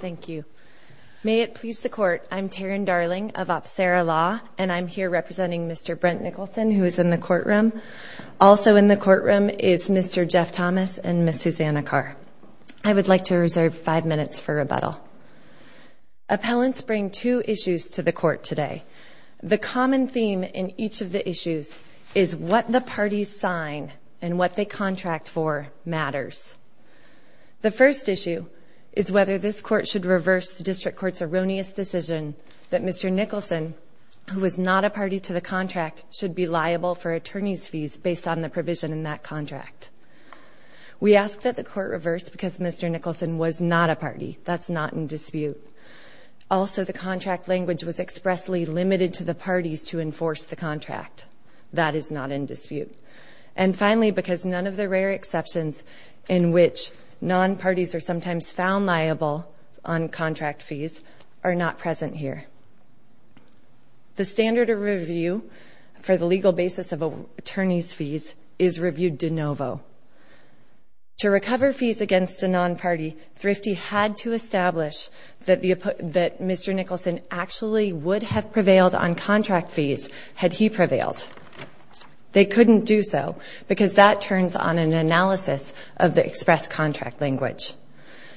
Thank you. May it please the Court, I'm Taryn Darling of Apsara Law and I'm here representing Mr. Brent Nicholson who is in the courtroom. Also in the courtroom is Mr. Jeff Thomas and Ms. Susanna Carr. I would like to reserve five minutes for rebuttal. Appellants bring two issues to the court today. The common theme in each of the issues is what the parties sign and what they contract for matters. The first issue is whether this court should reverse the district court's erroneous decision that Mr. Nicholson, who is not a party to the contract, should be liable for attorney's fees based on the provision in that contract. We ask that the court reverse because Mr. Nicholson was not a party. That's not in dispute. Also, the contract language was expressly limited to the parties to enforce the contract. That is not in dispute. And finally, because none of the parties are sometimes found liable on contract fees are not present here. The standard of review for the legal basis of attorney's fees is reviewed de novo. To recover fees against a non-party, Thrifty had to establish that Mr. Nicholson actually would have prevailed on contract fees had he prevailed. They couldn't do so because that turns on an analysis of the express contract language.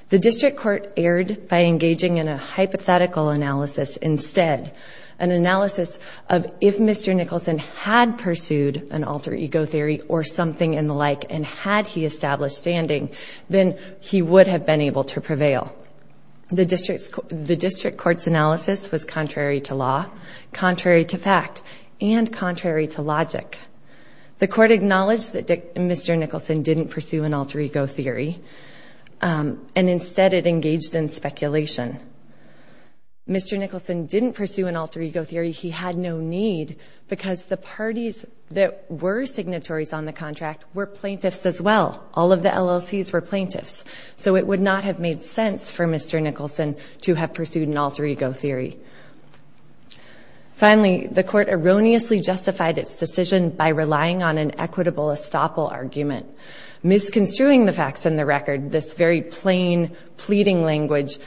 The district court erred by engaging in a hypothetical analysis instead. An analysis of if Mr. Nicholson had pursued an alter ego theory or something in the like and had he established standing, then he would have been able to prevail. The district court's analysis was contrary to law, contrary to fact, and acknowledged that Mr. Nicholson didn't pursue an alter ego theory and instead it engaged in speculation. Mr. Nicholson didn't pursue an alter ego theory. He had no need because the parties that were signatories on the contract were plaintiffs as well. All of the LLCs were plaintiffs, so it would not have made sense for Mr. Nicholson to have pursued an alter ego theory. Finally, the court erroneously justified its decision by relying on an equitable estoppel argument. Misconstruing the facts in the record, this very plain pleading language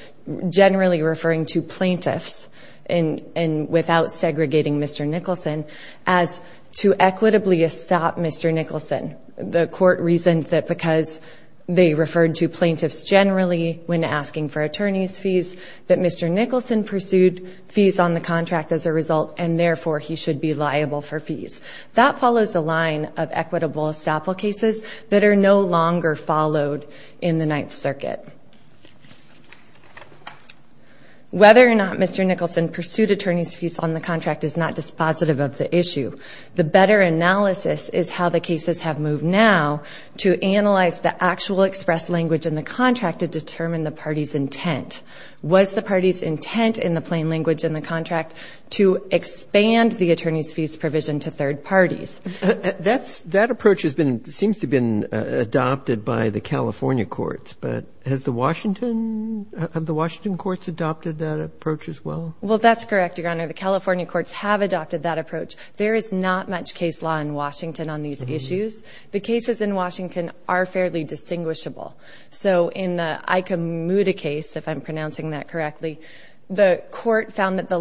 generally referring to plaintiffs, and without segregating Mr. Nicholson, as to equitably estop Mr. Nicholson. The court reasoned that because they referred to plaintiffs generally when asking for attorney's fees, that Mr. Nicholson should be liable for fees. That follows a line of equitable estoppel cases that are no longer followed in the Ninth Circuit. Whether or not Mr. Nicholson pursued attorney's fees on the contract is not dispositive of the issue. The better analysis is how the cases have moved now to analyze the actual expressed language in the contract to determine the party's intent. Was the attorney's fees provision to third parties? That's that approach has been seems to been adopted by the California courts, but has the Washington of the Washington courts adopted that approach as well? Well, that's correct, Your Honor. The California courts have adopted that approach. There is not much case law in Washington on these issues. The cases in Washington are fairly distinguishable. So in the Ikemuda case, if I'm pronouncing that correctly, the court found that the the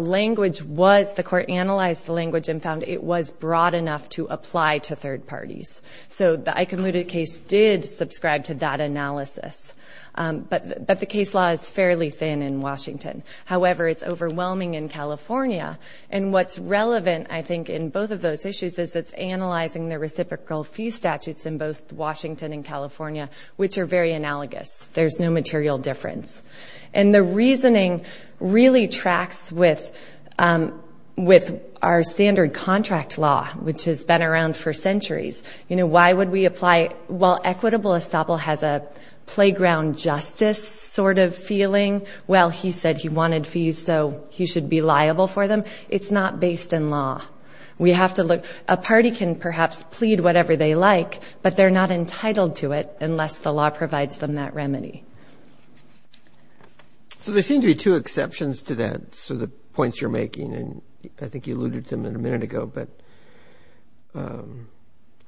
language and found it was broad enough to apply to third parties. So the Ikemuda case did subscribe to that analysis. But the case law is fairly thin in Washington. However, it's overwhelming in California. And what's relevant, I think, in both of those issues is it's analyzing the reciprocal fee statutes in both Washington and California, which are very analogous. There's no material difference. And the reasoning really tracks with our standard contract law, which has been around for centuries. You know, why would we apply? Well, equitable estoppel has a playground justice sort of feeling. Well, he said he wanted fees, so he should be liable for them. It's not based in law. We have to look. A party can perhaps plead whatever they like, but they're not entitled to it unless the law provides them that remedy. So there seem to be two exceptions to that. So the points you're making, and I think you alluded to them in a minute ago, but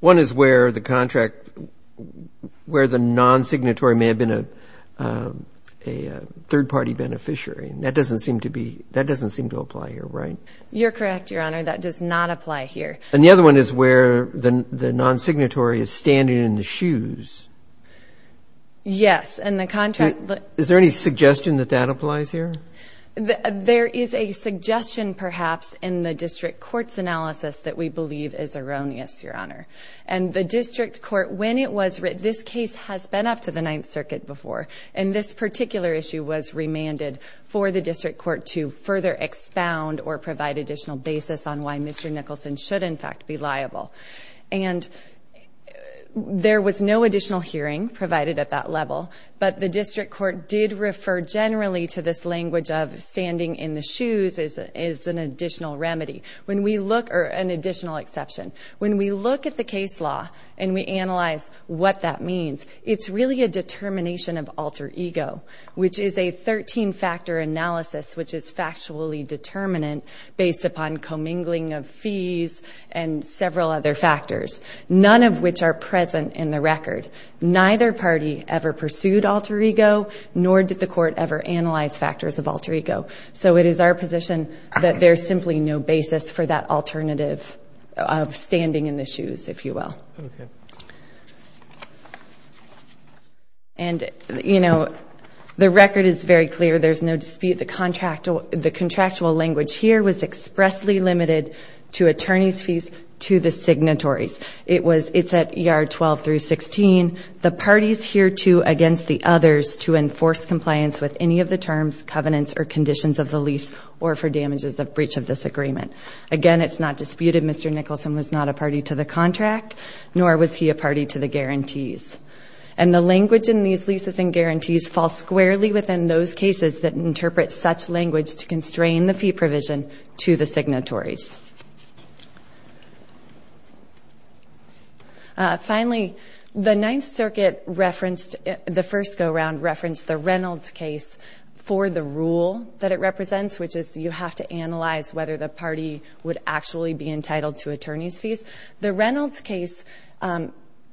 one is where the contract, where the non-signatory may have been a third-party beneficiary. That doesn't seem to be, that doesn't seem to apply here, right? You're correct, Your Honor. That does not apply here. And the other one is where the non-signatory is standing in the shoes. Yes, and the contract... Is there any suggestion that that applies here? There is a suggestion, perhaps, in the District Court's analysis that we believe is erroneous, Your Honor. And the District Court, when it was written, this case has been up to the Ninth Circuit before, and this particular issue was remanded for the District Court to further expound or provide additional basis on why Mr. Nicholson should, in fact, be liable. And there was no additional hearing provided at that level, but the District Court did refer generally to this language of standing in the shoes as an additional remedy. When we look, or an additional exception, when we look at the case law and we analyze what that means, it's really a determination of alter ego, which is a 13-factor analysis, which is factually determinant based upon commingling of fees and several other factors, none of which are present in the Court ever analyze factors of alter ego. So it is our position that there's simply no basis for that alternative of standing in the shoes, if you will. And, you know, the record is very clear. There's no dispute the contractual language here was expressly limited to attorneys fees to the signatories. It was it's at ER 12 through 16. The parties here too against the others to enforce compliance with any of the terms, covenants, or conditions of the lease or for damages of breach of this agreement. Again, it's not disputed Mr. Nicholson was not a party to the contract, nor was he a party to the guarantees. And the language in these leases and guarantees fall squarely within those cases that interpret such language to constrain the fee provision to the signatories. Finally, the Ninth Circuit referenced, the first go-round referenced the Reynolds case for the rule that it represents, which is you have to analyze whether the party would actually be entitled to attorneys fees. The Reynolds case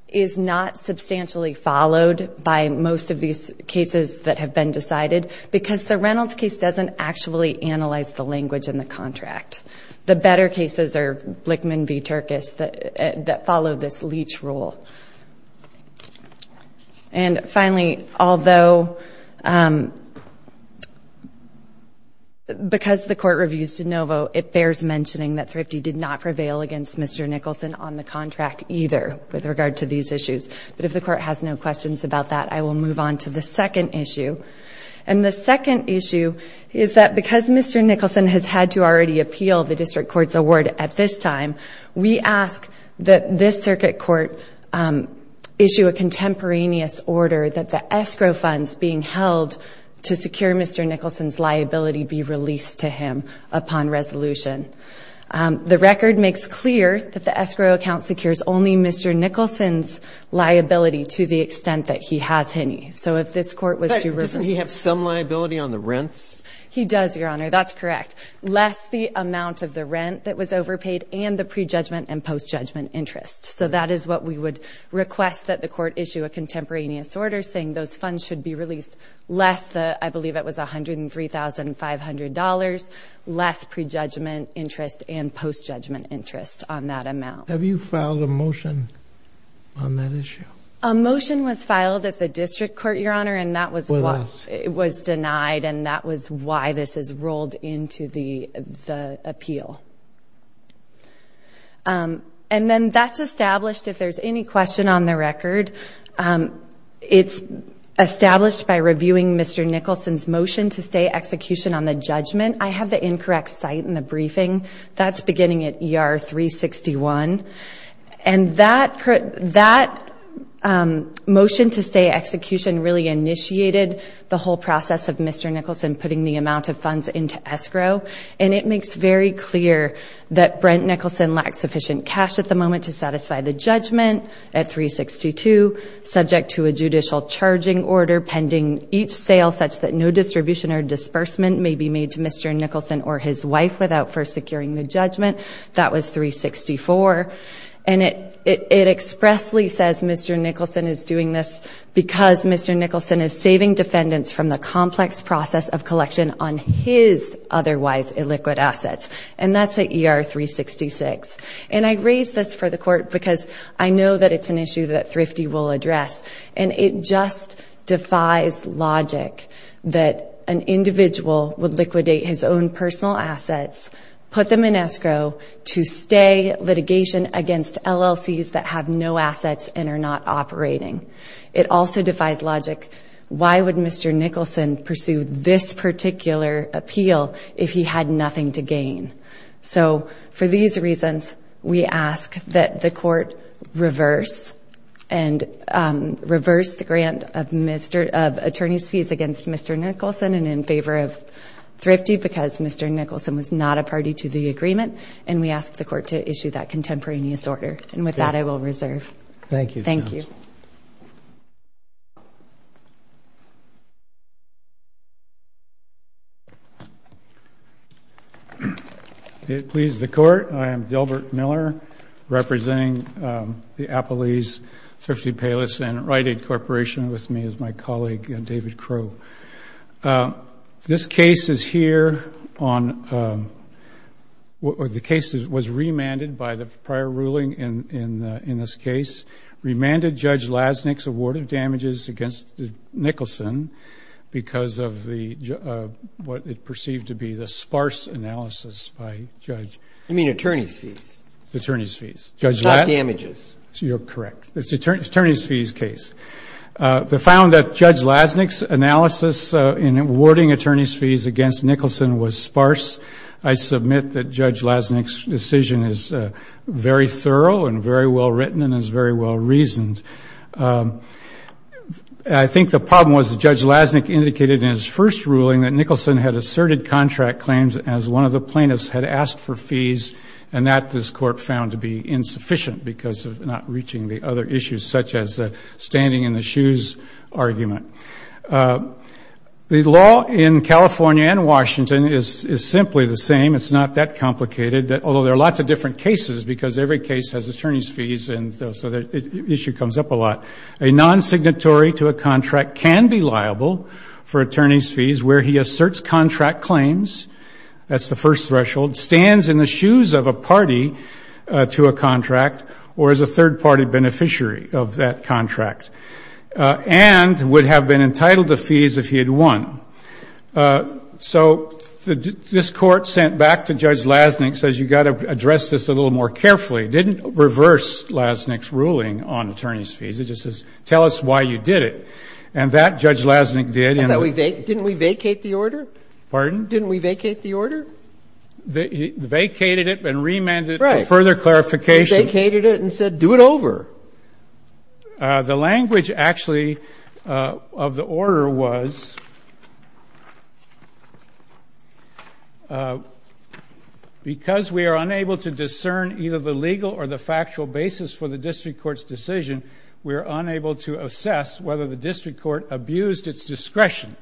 is not substantially followed by most of these cases that have been decided because the Reynolds case doesn't actually analyze the language in the contract. The better cases are Blickman v. Turkus that follow this leach rule. And finally, although because the court reviews DeNovo, it bears mentioning that Thrifty did not prevail against Mr. Nicholson on the contract either with regard to these issues. But if the court has no questions about that, I will move on to the second issue. And the second issue is that because Mr. Nicholson has already appealed the district court's award at this time, we ask that this circuit court issue a contemporaneous order that the escrow funds being held to secure Mr. Nicholson's liability be released to him upon resolution. The record makes clear that the escrow account secures only Mr. Nicholson's liability to the extent that he has any. So if this court was to He does, Your Honor. That's correct. Less the amount of the rent that was overpaid and the prejudgment and post-judgment interest. So that is what we would request that the court issue a contemporaneous order saying those funds should be released less the, I believe it was $103,500, less prejudgment interest and post-judgment interest on that amount. Have you filed a motion on that issue? A motion was filed at the district court, Your Honor, and that was was denied and that was why this is rolled into the appeal. And then that's established if there's any question on the record. It's established by reviewing Mr. Nicholson's motion to stay execution on the judgment. I have the incorrect site in the briefing. That's beginning at ER 361. And that motion to stay execution really initiated the whole process of Mr. Nicholson putting the amount of funds into escrow. And it makes very clear that Brent Nicholson lacks sufficient cash at the moment to satisfy the judgment at 362, subject to a judicial charging order pending each sale such that no distribution or disbursement may be made to Mr. Nicholson or his wife without first securing the judgment. That was 364. And it expressly says Mr. Nicholson is doing this because Mr. Nicholson is saving defendants from the complex process of collection on his otherwise illiquid assets. And that's at ER 366. And I raise this for the court because I know that it's an issue that Thrifty will address. And it just defies logic that an individual would liquidate his own personal assets, put them in escrow to stay litigation against LLCs that have no assets and are not operating. It also defies logic. Why would Mr. Nicholson pursue this particular appeal if he had nothing to gain? So for these reasons, we ask that the court reverse and reverse the grant of Mr. of attorney's fees against Mr. Nicholson and in favor of Thrifty because Mr. Nicholson was not a party to the agreement. And we ask the court to issue that contemporaneous order. And with that, I will reserve. Thank you. Thank you. It pleases the court. I am Dilbert Miller representing the Appalachian Thrifty Payless and Rite Aid Corporation. With me is my colleague David Crow. This case is here on the case that was remanded by the prior ruling in this case. Remanded Judge Lasnik's award of damages against Nicholson because of what is perceived to be the sparse analysis by Judge. You mean attorney's fees? Attorney's fees. Judge Lask? Not damages. You're correct. It's attorney's fees case. They found that Judge Lasnik's analysis in awarding attorney's fees against Nicholson was sparse. I submit that Judge Lasnik's decision is very thorough and very well written and is very well reasoned. I think the problem was that Judge Lasnik indicated in his first ruling that Nicholson had asserted contract claims as one of the plaintiffs had asked for fees and that this court found to be insufficient because of not reaching the other issues such as standing in the argument. The law in California and Washington is simply the same. It's not that complicated, although there are lots of different cases because every case has attorney's fees and so the issue comes up a lot. A non-signatory to a contract can be liable for attorney's fees where he asserts contract claims. That's the first threshold. Stands in the shoes of a party to a contract or is a third party beneficiary of that contract and would have been entitled to fees if he had won. So this Court sent back to Judge Lasnik, says you've got to address this a little more carefully. It didn't reverse Lasnik's ruling on attorney's fees. It just says tell us why you did it. And that Judge Lasnik did. And that we vacated. Didn't we vacate the order? Pardon? Didn't we vacate the order? Vacated it and remanded it for further clarification. Vacated it and said do it over. The language actually of the order was because we are unable to discern either the legal or the factual basis for the district court's decision, we are unable to assess whether the district court abused its discretion.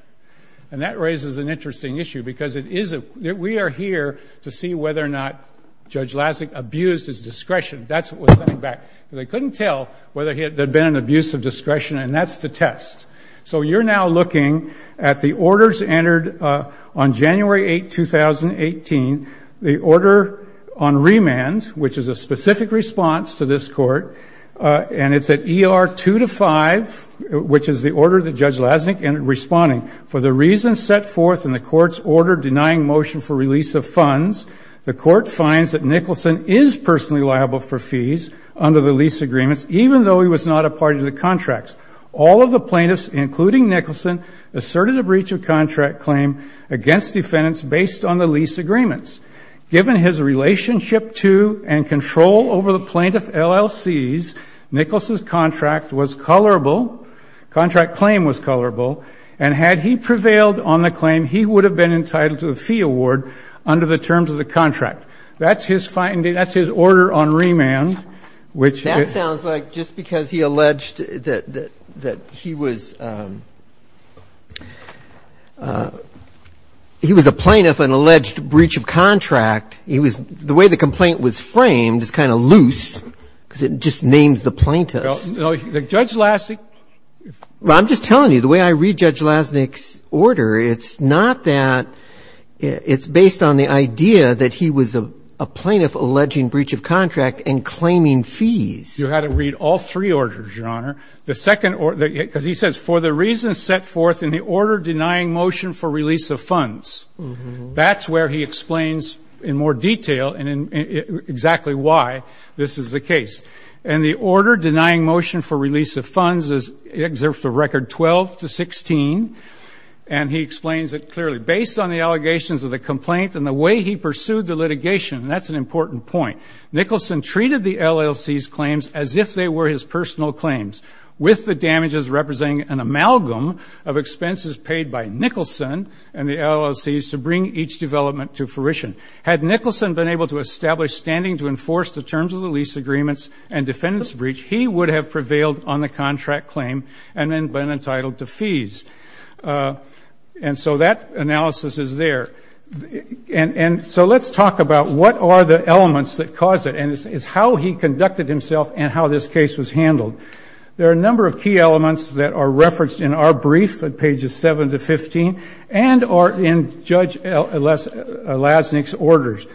And that raises an interesting issue because we are here to see whether or not Judge Lasnik abused his discretion. That's what was sent back. They couldn't tell whether there had been an abuse of discretion and that's the test. So you're now looking at the orders entered on January 8, 2018, the order on remand, which is a specific response to this Court, and it's at ER 2 to 5, which is the order that Judge Lasnik ended responding. For the reasons set forth in the Court's order denying motion for release of funds, the Court finds that under the lease agreements, even though he was not a party to the contracts, all of the plaintiffs, including Nicholson, asserted a breach of contract claim against defendants based on the lease agreements. Given his relationship to and control over the plaintiff LLCs, Nicholson's contract was colorable, contract claim was colorable, and had he prevailed on the claim, he would have been entitled to a fee award under the terms of the contract. That's his finding. That's his order on remand. That sounds like just because he alleged that he was a plaintiff, an alleged breach of contract, the way the complaint was framed is kind of loose, because it just names the plaintiffs. Judge Lasnik. I'm just telling you, the way I read Judge Lasnik's order, it's not that it's based on the idea that he was a plaintiff alleging breach of contract and claiming fees. You had to read all three orders, Your Honor. The second order, because he says for the reasons set forth in the order denying motion for release of funds. That's where he explains in more detail and in exactly why this is the case. And the order denying motion for release of funds is, it exerts a record 12 to 16, and he explains it clearly. Based on the allegations of the complaint and the way he pursued the litigation, and that's an important point, Nicholson treated the LLC's claims as if they were his personal claims, with the damages representing an amalgam of expenses paid by Nicholson and the LLC's to bring each development to fruition. Had Nicholson been able to establish standing to enforce the terms of the lease agreements and defendant's breach, he would have prevailed on the contract claim and then been entitled to fees. And so that analysis is there. And so let's talk about what are the elements that cause it, and it's how he conducted himself and how this case was handled. There are a number of key elements that are referenced in our brief at pages 7 to 15 and are in Judge Lasnik's orders.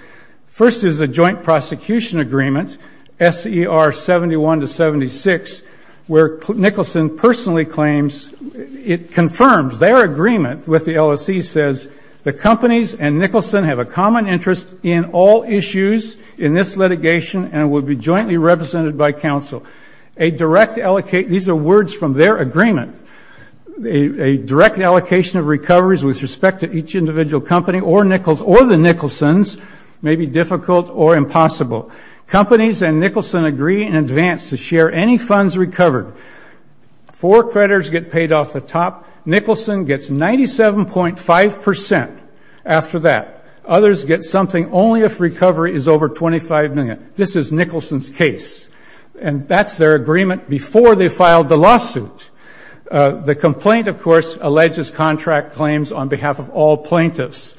First is the joint prosecution agreement, SER 71 to 76, where Nicholson personally claims, it confirms their agreement with the LLC, says the companies and Nicholson have a common interest in all issues in this litigation and will be jointly represented by counsel. A direct allocate, these are words from their agreement, a direct allocation of recoveries with respect to each individual company or the Nicholson's may be difficult or impossible. Companies and Nicholson agree in advance to share any funds recovered. Four creditors get paid off the top. Nicholson gets 97.5% after that. Others get something only if recovery is over $25 million. This is Nicholson's case. And that's their agreement before they filed the lawsuit. The complaint, of course, alleges contract claims on behalf of all plaintiffs.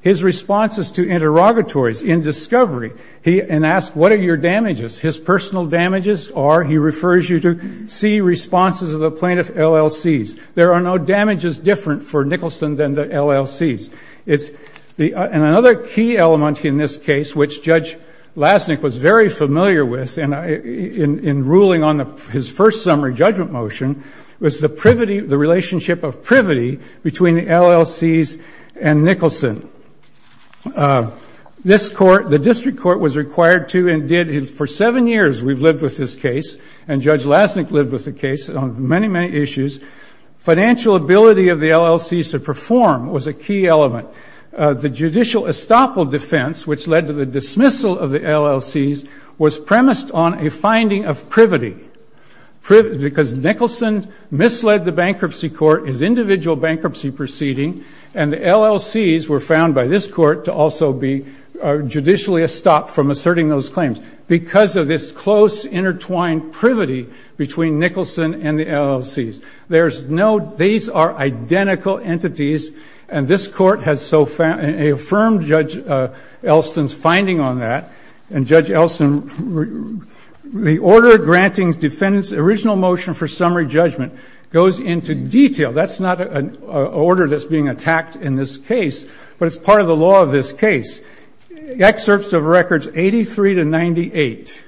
His response is to interrogatories in discovery and ask, what are your damages? His personal damages or he refers you to see responses of the plaintiff LLCs. There are no damages different for Nicholson than the LLCs. And another key element in this case, which Judge Lasnik was very familiar with in ruling on his first summary judgment motion, was the privity, the relationship of privity between the LLCs and Nicholson. This court, the district court, was required to and did for seven years we've lived with this case, and Judge Lasnik lived with the case on many, many issues. Financial ability of the LLCs to perform was a key element. The judicial estoppel defense, which led to the dismissal of the LLCs, was premised on a finding of privity because Nicholson misled the bankruptcy court in his individual bankruptcy proceeding, and the LLCs were found by this court to also be judicially estopped from asserting those claims because of this close intertwined privity between Nicholson and the LLCs. These are identical entities, and this court has so affirmed Judge Elston's finding on that. And Judge Elston, the order granting defendant's original motion for summary judgment goes into detail. That's not an order that's being attacked in this case, but it's part of the law of this case. Excerpts of records 83 to 98,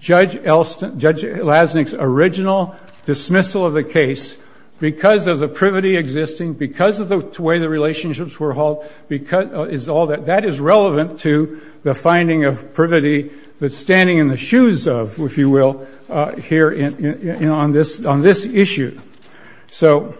Judge Elston, Judge Lasnik's original dismissal of the case because of the privity existing, because of the way the relationships were hauled, is all that. That is relevant to the finding of privity that's standing in the shoes of, if you will, here on this issue. So,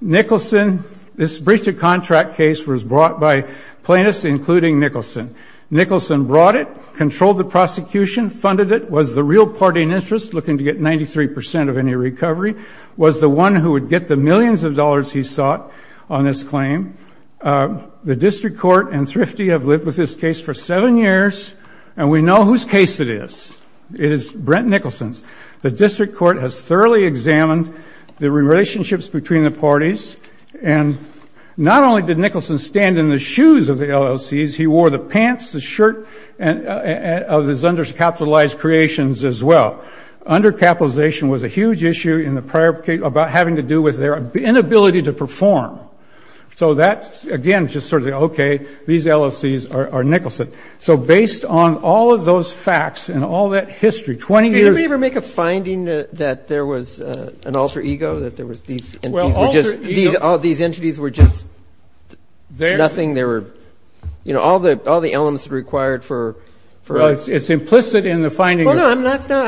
Nicholson, this breach of contract case was brought by plaintiffs, including Nicholson. Nicholson brought it, controlled the prosecution, funded it, was the real party in interest looking to get 93% of any recovery, was the one who would get the millions of dollars he sought on this claim. The District Court and Thrifty have lived with this case for seven years, and we know whose case it is. It is Brent Nicholson's. The District Court has thoroughly examined the relationships between the parties, and not only did Nicholson stand in the shoes of the LLCs, he wore the pants, the shirt of his undercapitalized creations as well. Undercapitalization was a huge issue in the prior case about having to do with their inability to perform. So that's, again, just sort of the, okay, these LLCs are Nicholson. So based on all of those facts and all that history, 20 years- Can anybody ever make a finding that there was an alter ego, that there was these entities were just- Well, alter ego- These entities were just nothing, they were, you know, all the elements required for- Well, it's implicit in the finding- Well, no, I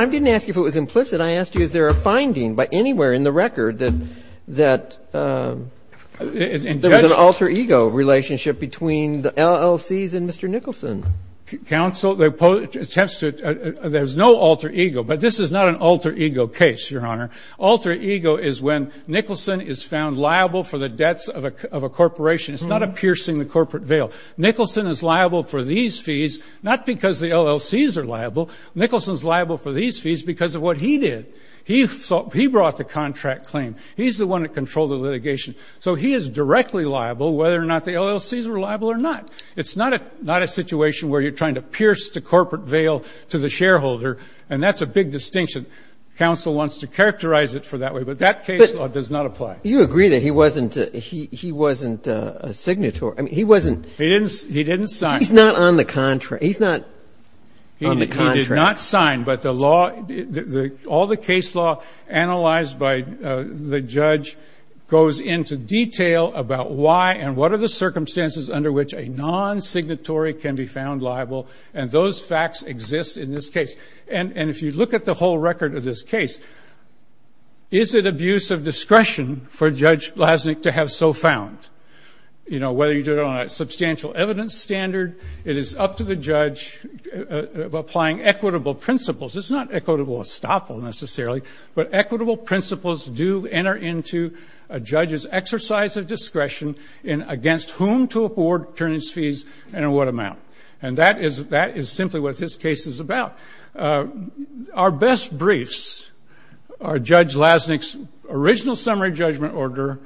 didn't ask you if it was implicit. I asked you is there a finding by anywhere in the record that there was an alter ego relationship between the LLCs and Mr. Nicholson. Counsel, there's no alter ego, but this is not an alter ego case, Your Honor. Alter ego is when Nicholson is found liable for the debts of a corporation. It's not a piercing the corporate veil. Nicholson is liable for these fees, not because the LLCs are liable. Nicholson's liable for these fees because of what he did. He brought the contract claim. He's the one that controlled the litigation. So he is directly liable whether or not the LLCs are liable or not. It's not a situation where you're trying to pierce the corporate veil to the shareholder, and that's a big distinction. Counsel wants to characterize it for that way, but that case law does not apply. You agree that he wasn't a signatory. I mean, he wasn't- He didn't sign. He's not on the contract. He did not sign, but all the case law analyzed by the judge goes into detail about why and what are the abuse of discretion for Judge Lasnik to have so found. Whether you did it on a substantial evidence standard, it is up to the judge applying equitable principles. It's not equitable estoppel, necessarily, but equitable principles do enter into a judge's exercise of discretion against whom to afford attorneys' fees and in what amount. And that is simply what this case is about. Our best briefs are Judge Lasnik's original summary judgment order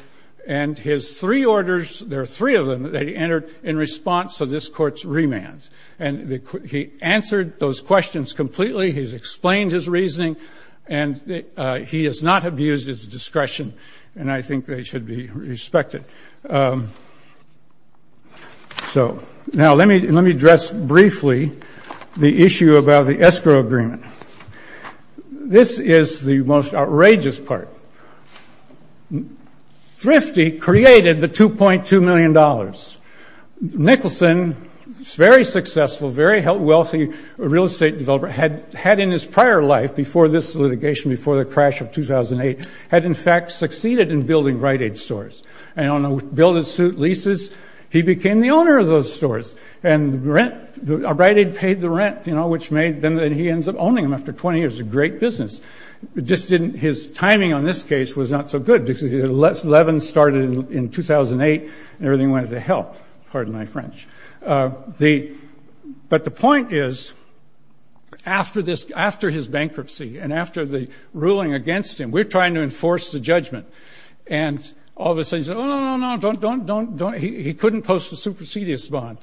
and his three orders. There are three of them that he entered in response to this Court's remands. And he answered those questions completely. He's explained his reasoning, and he has not abused his discretion, and I think they should be respected. So now let me address briefly the issue about the escrow agreement. This is the most outrageous part. Thrifty created the $2.2 million. Nicholson, very successful, very wealthy real estate developer, had in his prior life, before this litigation, before the crash of 2008, had in fact succeeded in building Rite Aid stores. And on a bill that suit leases, he became the owner of those stores. And Rite Aid paid the rent, which made then that he ends up owning them after 20 years, a great business. His timing on this case was not so good, because 11 started in 2008, and everything went to hell, pardon my French. But the point is, after his bankruptcy, and after the ruling against him, we're trying to enforce the judgment, and all of a sudden he says, no, no, no, he couldn't post a supersedious bond.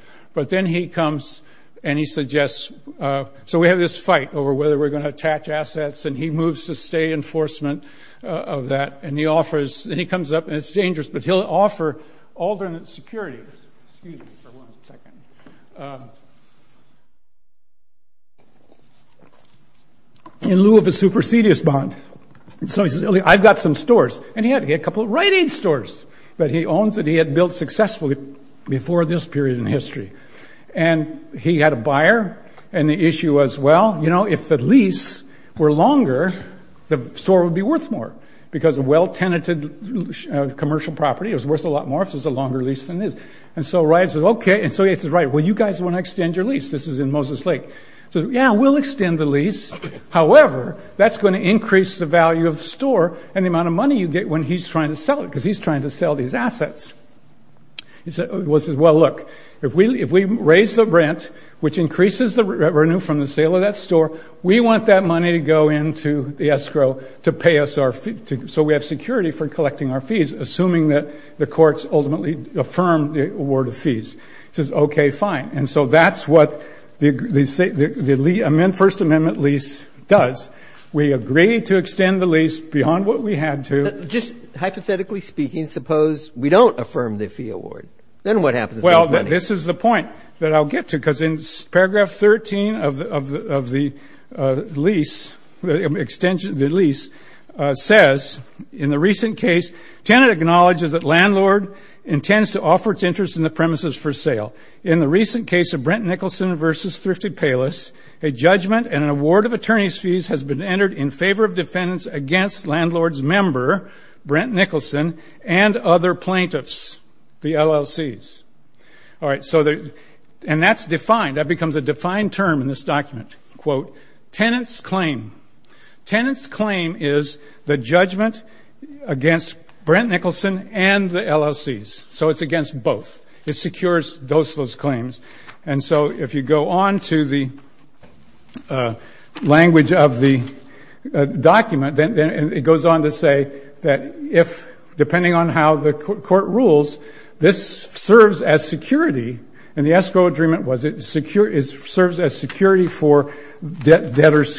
So we have this fight over whether we're going to attach assets, and he moves to stay enforcement of that. And he comes up, and it's dangerous, but he'll offer alternate security. Just a second. In lieu of a supersedious bond, so he says, I've got some stores. And he had a couple of Rite Aid stores that he owns that he had built successfully before this period in history. And he had a buyer, and the issue was, well, if the lease were longer, the store would be worth more, because a well-tenanted commercial property is worth a lot more if it's a longer lease than this. And so Rite says, okay, and so he says, right, well, you guys want to extend your lease. This is in Moses Lake. He says, yeah, we'll extend the lease. However, that's going to increase the value of the store and the amount of money you get when he's trying to sell it, because he's trying to sell these assets. He says, well, look, if we raise the rent, which increases the renew from the sale of that store, we want that money to go into the escrow to pay us our fee, so we have security for collecting our fees, assuming that the courts ultimately affirm the award of fees. He says, okay, fine. And so that's what the First Amendment lease does. We agree to extend the lease beyond what we had to. And just hypothetically speaking, suppose we don't affirm the fee award. Then what happens to the money? Well, this is the point that I'll get to, because in paragraph 13 of the lease, the extension of the lease says, in the recent case, tenant acknowledges that landlord intends to offer its interest in the premises for sale. In the recent case of Brent Nicholson versus Thrifted Payless, a judgment and an award of attorney's fees has been entered in favor of defendants against landlord's member, Brent Nicholson, and other plaintiffs, the LLCs. All right, and that's defined. That becomes a defined term in this document, quote, tenant's claim. Tenant's claim is the judgment against Brent Nicholson and the LLCs. So it's against both. It secures those claims. And so if you go on to the language of the document, then it goes on to say that if, depending on how the court rules, this serves as security. And the escrow agreement was it serves as security for debtor's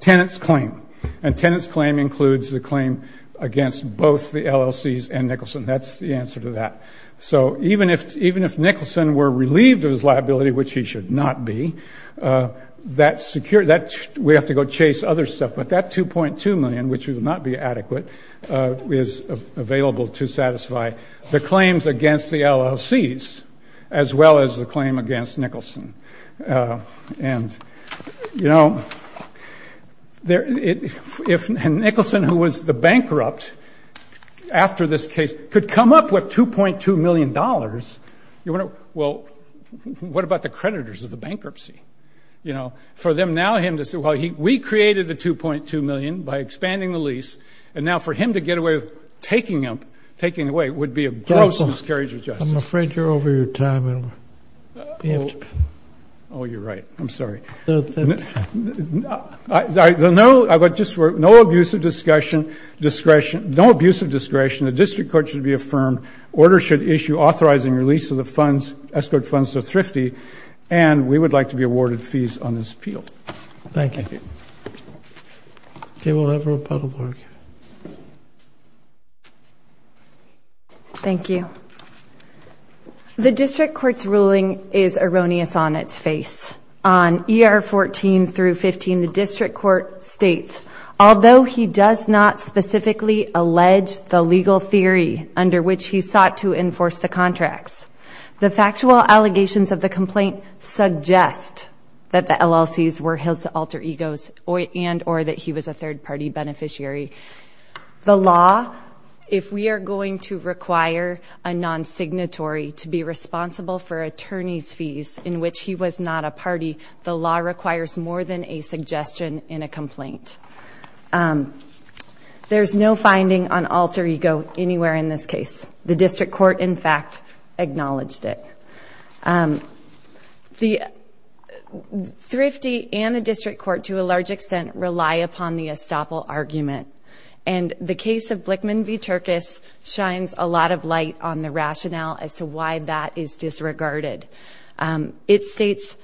tenant's claim. And tenant's claim includes the claim against both the LLCs and Nicholson. That's the answer to that. So even if Nicholson were relieved of his liability, which he should not be, that's secure. We have to go chase other stuff, but that $2.2 million, which would not be adequate, is available to satisfy the claims against the LLCs as well as the claim against Nicholson. And if Nicholson, who was the bankrupt after this case, could come up with $2.2 million, well, what about the creditors of the bankruptcy? For them now him to say, well, we created the $2.2 million by expanding the lease, and now for him to get away with taking it away would be a gross miscarriage of justice. I'm afraid you're over your time. Oh, you're right. I'm sorry. No abusive discretion. No abusive discretion. The district court should be affirmed. Order should issue authorizing release of the escrowed funds to Thrifty. And we would like to be awarded fees on this appeal. Thank you. Thank you. Okay, we'll have Republican. Thank you. Thank you. The district court's ruling is erroneous on its face. On ER 14 through 15, the district court states, although he does not specifically allege the legal theory under which he sought to enforce the contracts, the factual allegations of the complaint suggest that the LLCs were his alter egos and or that he was a third-party beneficiary. The law, if we are going to require a non-signatory to be responsible for attorney's fees in which he was not a party, the law requires more than a suggestion in a complaint. There's no finding on alter ego anywhere in this case. The district court, in fact, acknowledged it. The Thrifty and the district court, to a large extent, rely upon the estoppel argument. And the case of Blickman v. Turkus shines a lot of light on the rationale as to why that is disregarded. It states,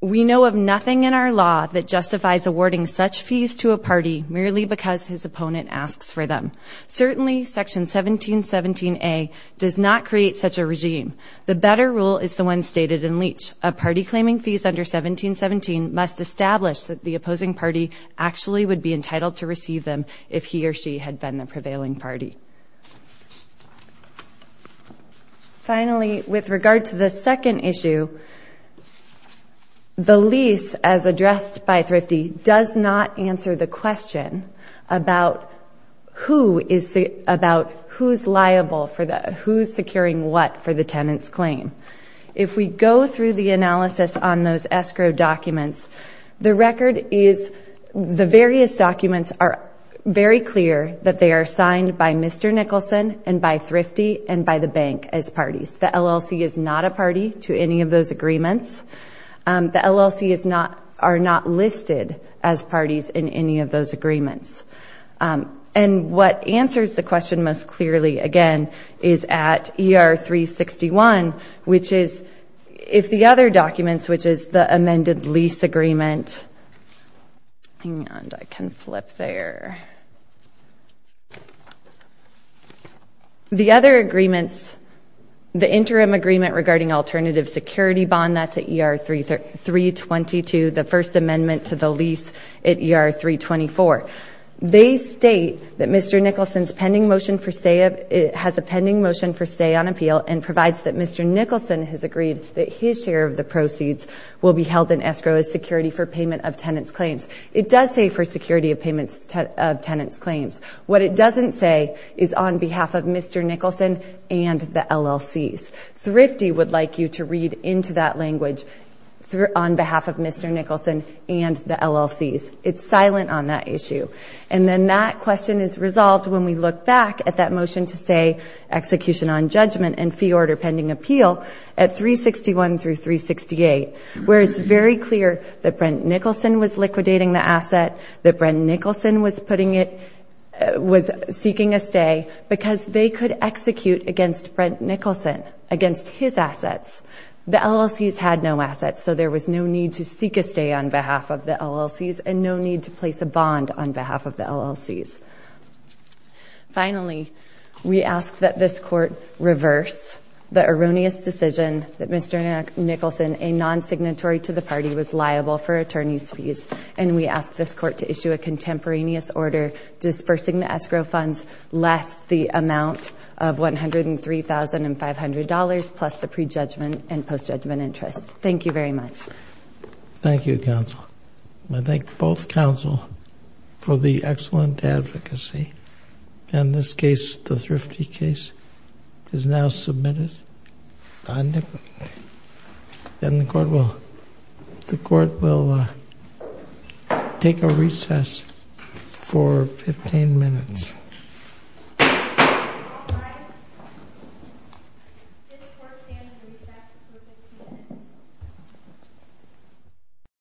we know of nothing in our law that justifies awarding such fees to a party merely because his opponent asks for them. Certainly, Section 1717A does not create such a regime. The better rule is the one stated in Leach. A party claiming fees under 1717 must establish that the opposing party actually would be entitled to receive them if he or she had been the prevailing party. Finally, with regard to the second issue, the lease, as addressed by Thrifty, does not answer the question about who's securing what for the tenant's claim. If we go through the analysis on those escrow documents, the various documents are very clear that they are signed by Mr. Nicholson and by Thrifty and by the bank as parties. The LLC is not a party to any of those agreements. The LLC are not listed as parties in any of those agreements. And what answers the question most clearly, again, is at ER 361, which is, if the other documents, which is the amended lease agreement, Hang on, I can flip there. The other agreements, the interim agreement regarding alternative security bond, that's at ER 322, the first amendment to the lease at ER 324. They state that Mr. Nicholson has a pending motion for stay on appeal and provides that Mr. Nicholson has agreed that his share of the proceeds will be held in escrow as security for payment of tenant's claims. It does say for security of payment of tenant's claims. What it doesn't say is on behalf of Mr. Nicholson and the LLCs. Thrifty would like you to read into that language on behalf of Mr. Nicholson and the LLCs. It's silent on that issue. And then that question is resolved when we look back at that motion to stay, and fee order pending appeal at 361 through 368, where it's very clear that Brent Nicholson was liquidating the asset, that Brent Nicholson was putting it, was seeking a stay, because they could execute against Brent Nicholson, against his assets. The LLCs had no assets, so there was no need to seek a stay on behalf of the LLCs and no need to place a bond on behalf of the LLCs. Finally, we ask that this Court reverse the erroneous decision that Mr. Nicholson, a non-signatory to the party, was liable for attorney's fees, and we ask this Court to issue a contemporaneous order dispersing the escrow funds less the amount of $103,500 plus the prejudgment and post-judgment interest. Thank you, Counsel. I thank both Counsel for the excellent advocacy. And this case, the Thrifty case, is now submitted. And the Court will take a recess for 15 minutes.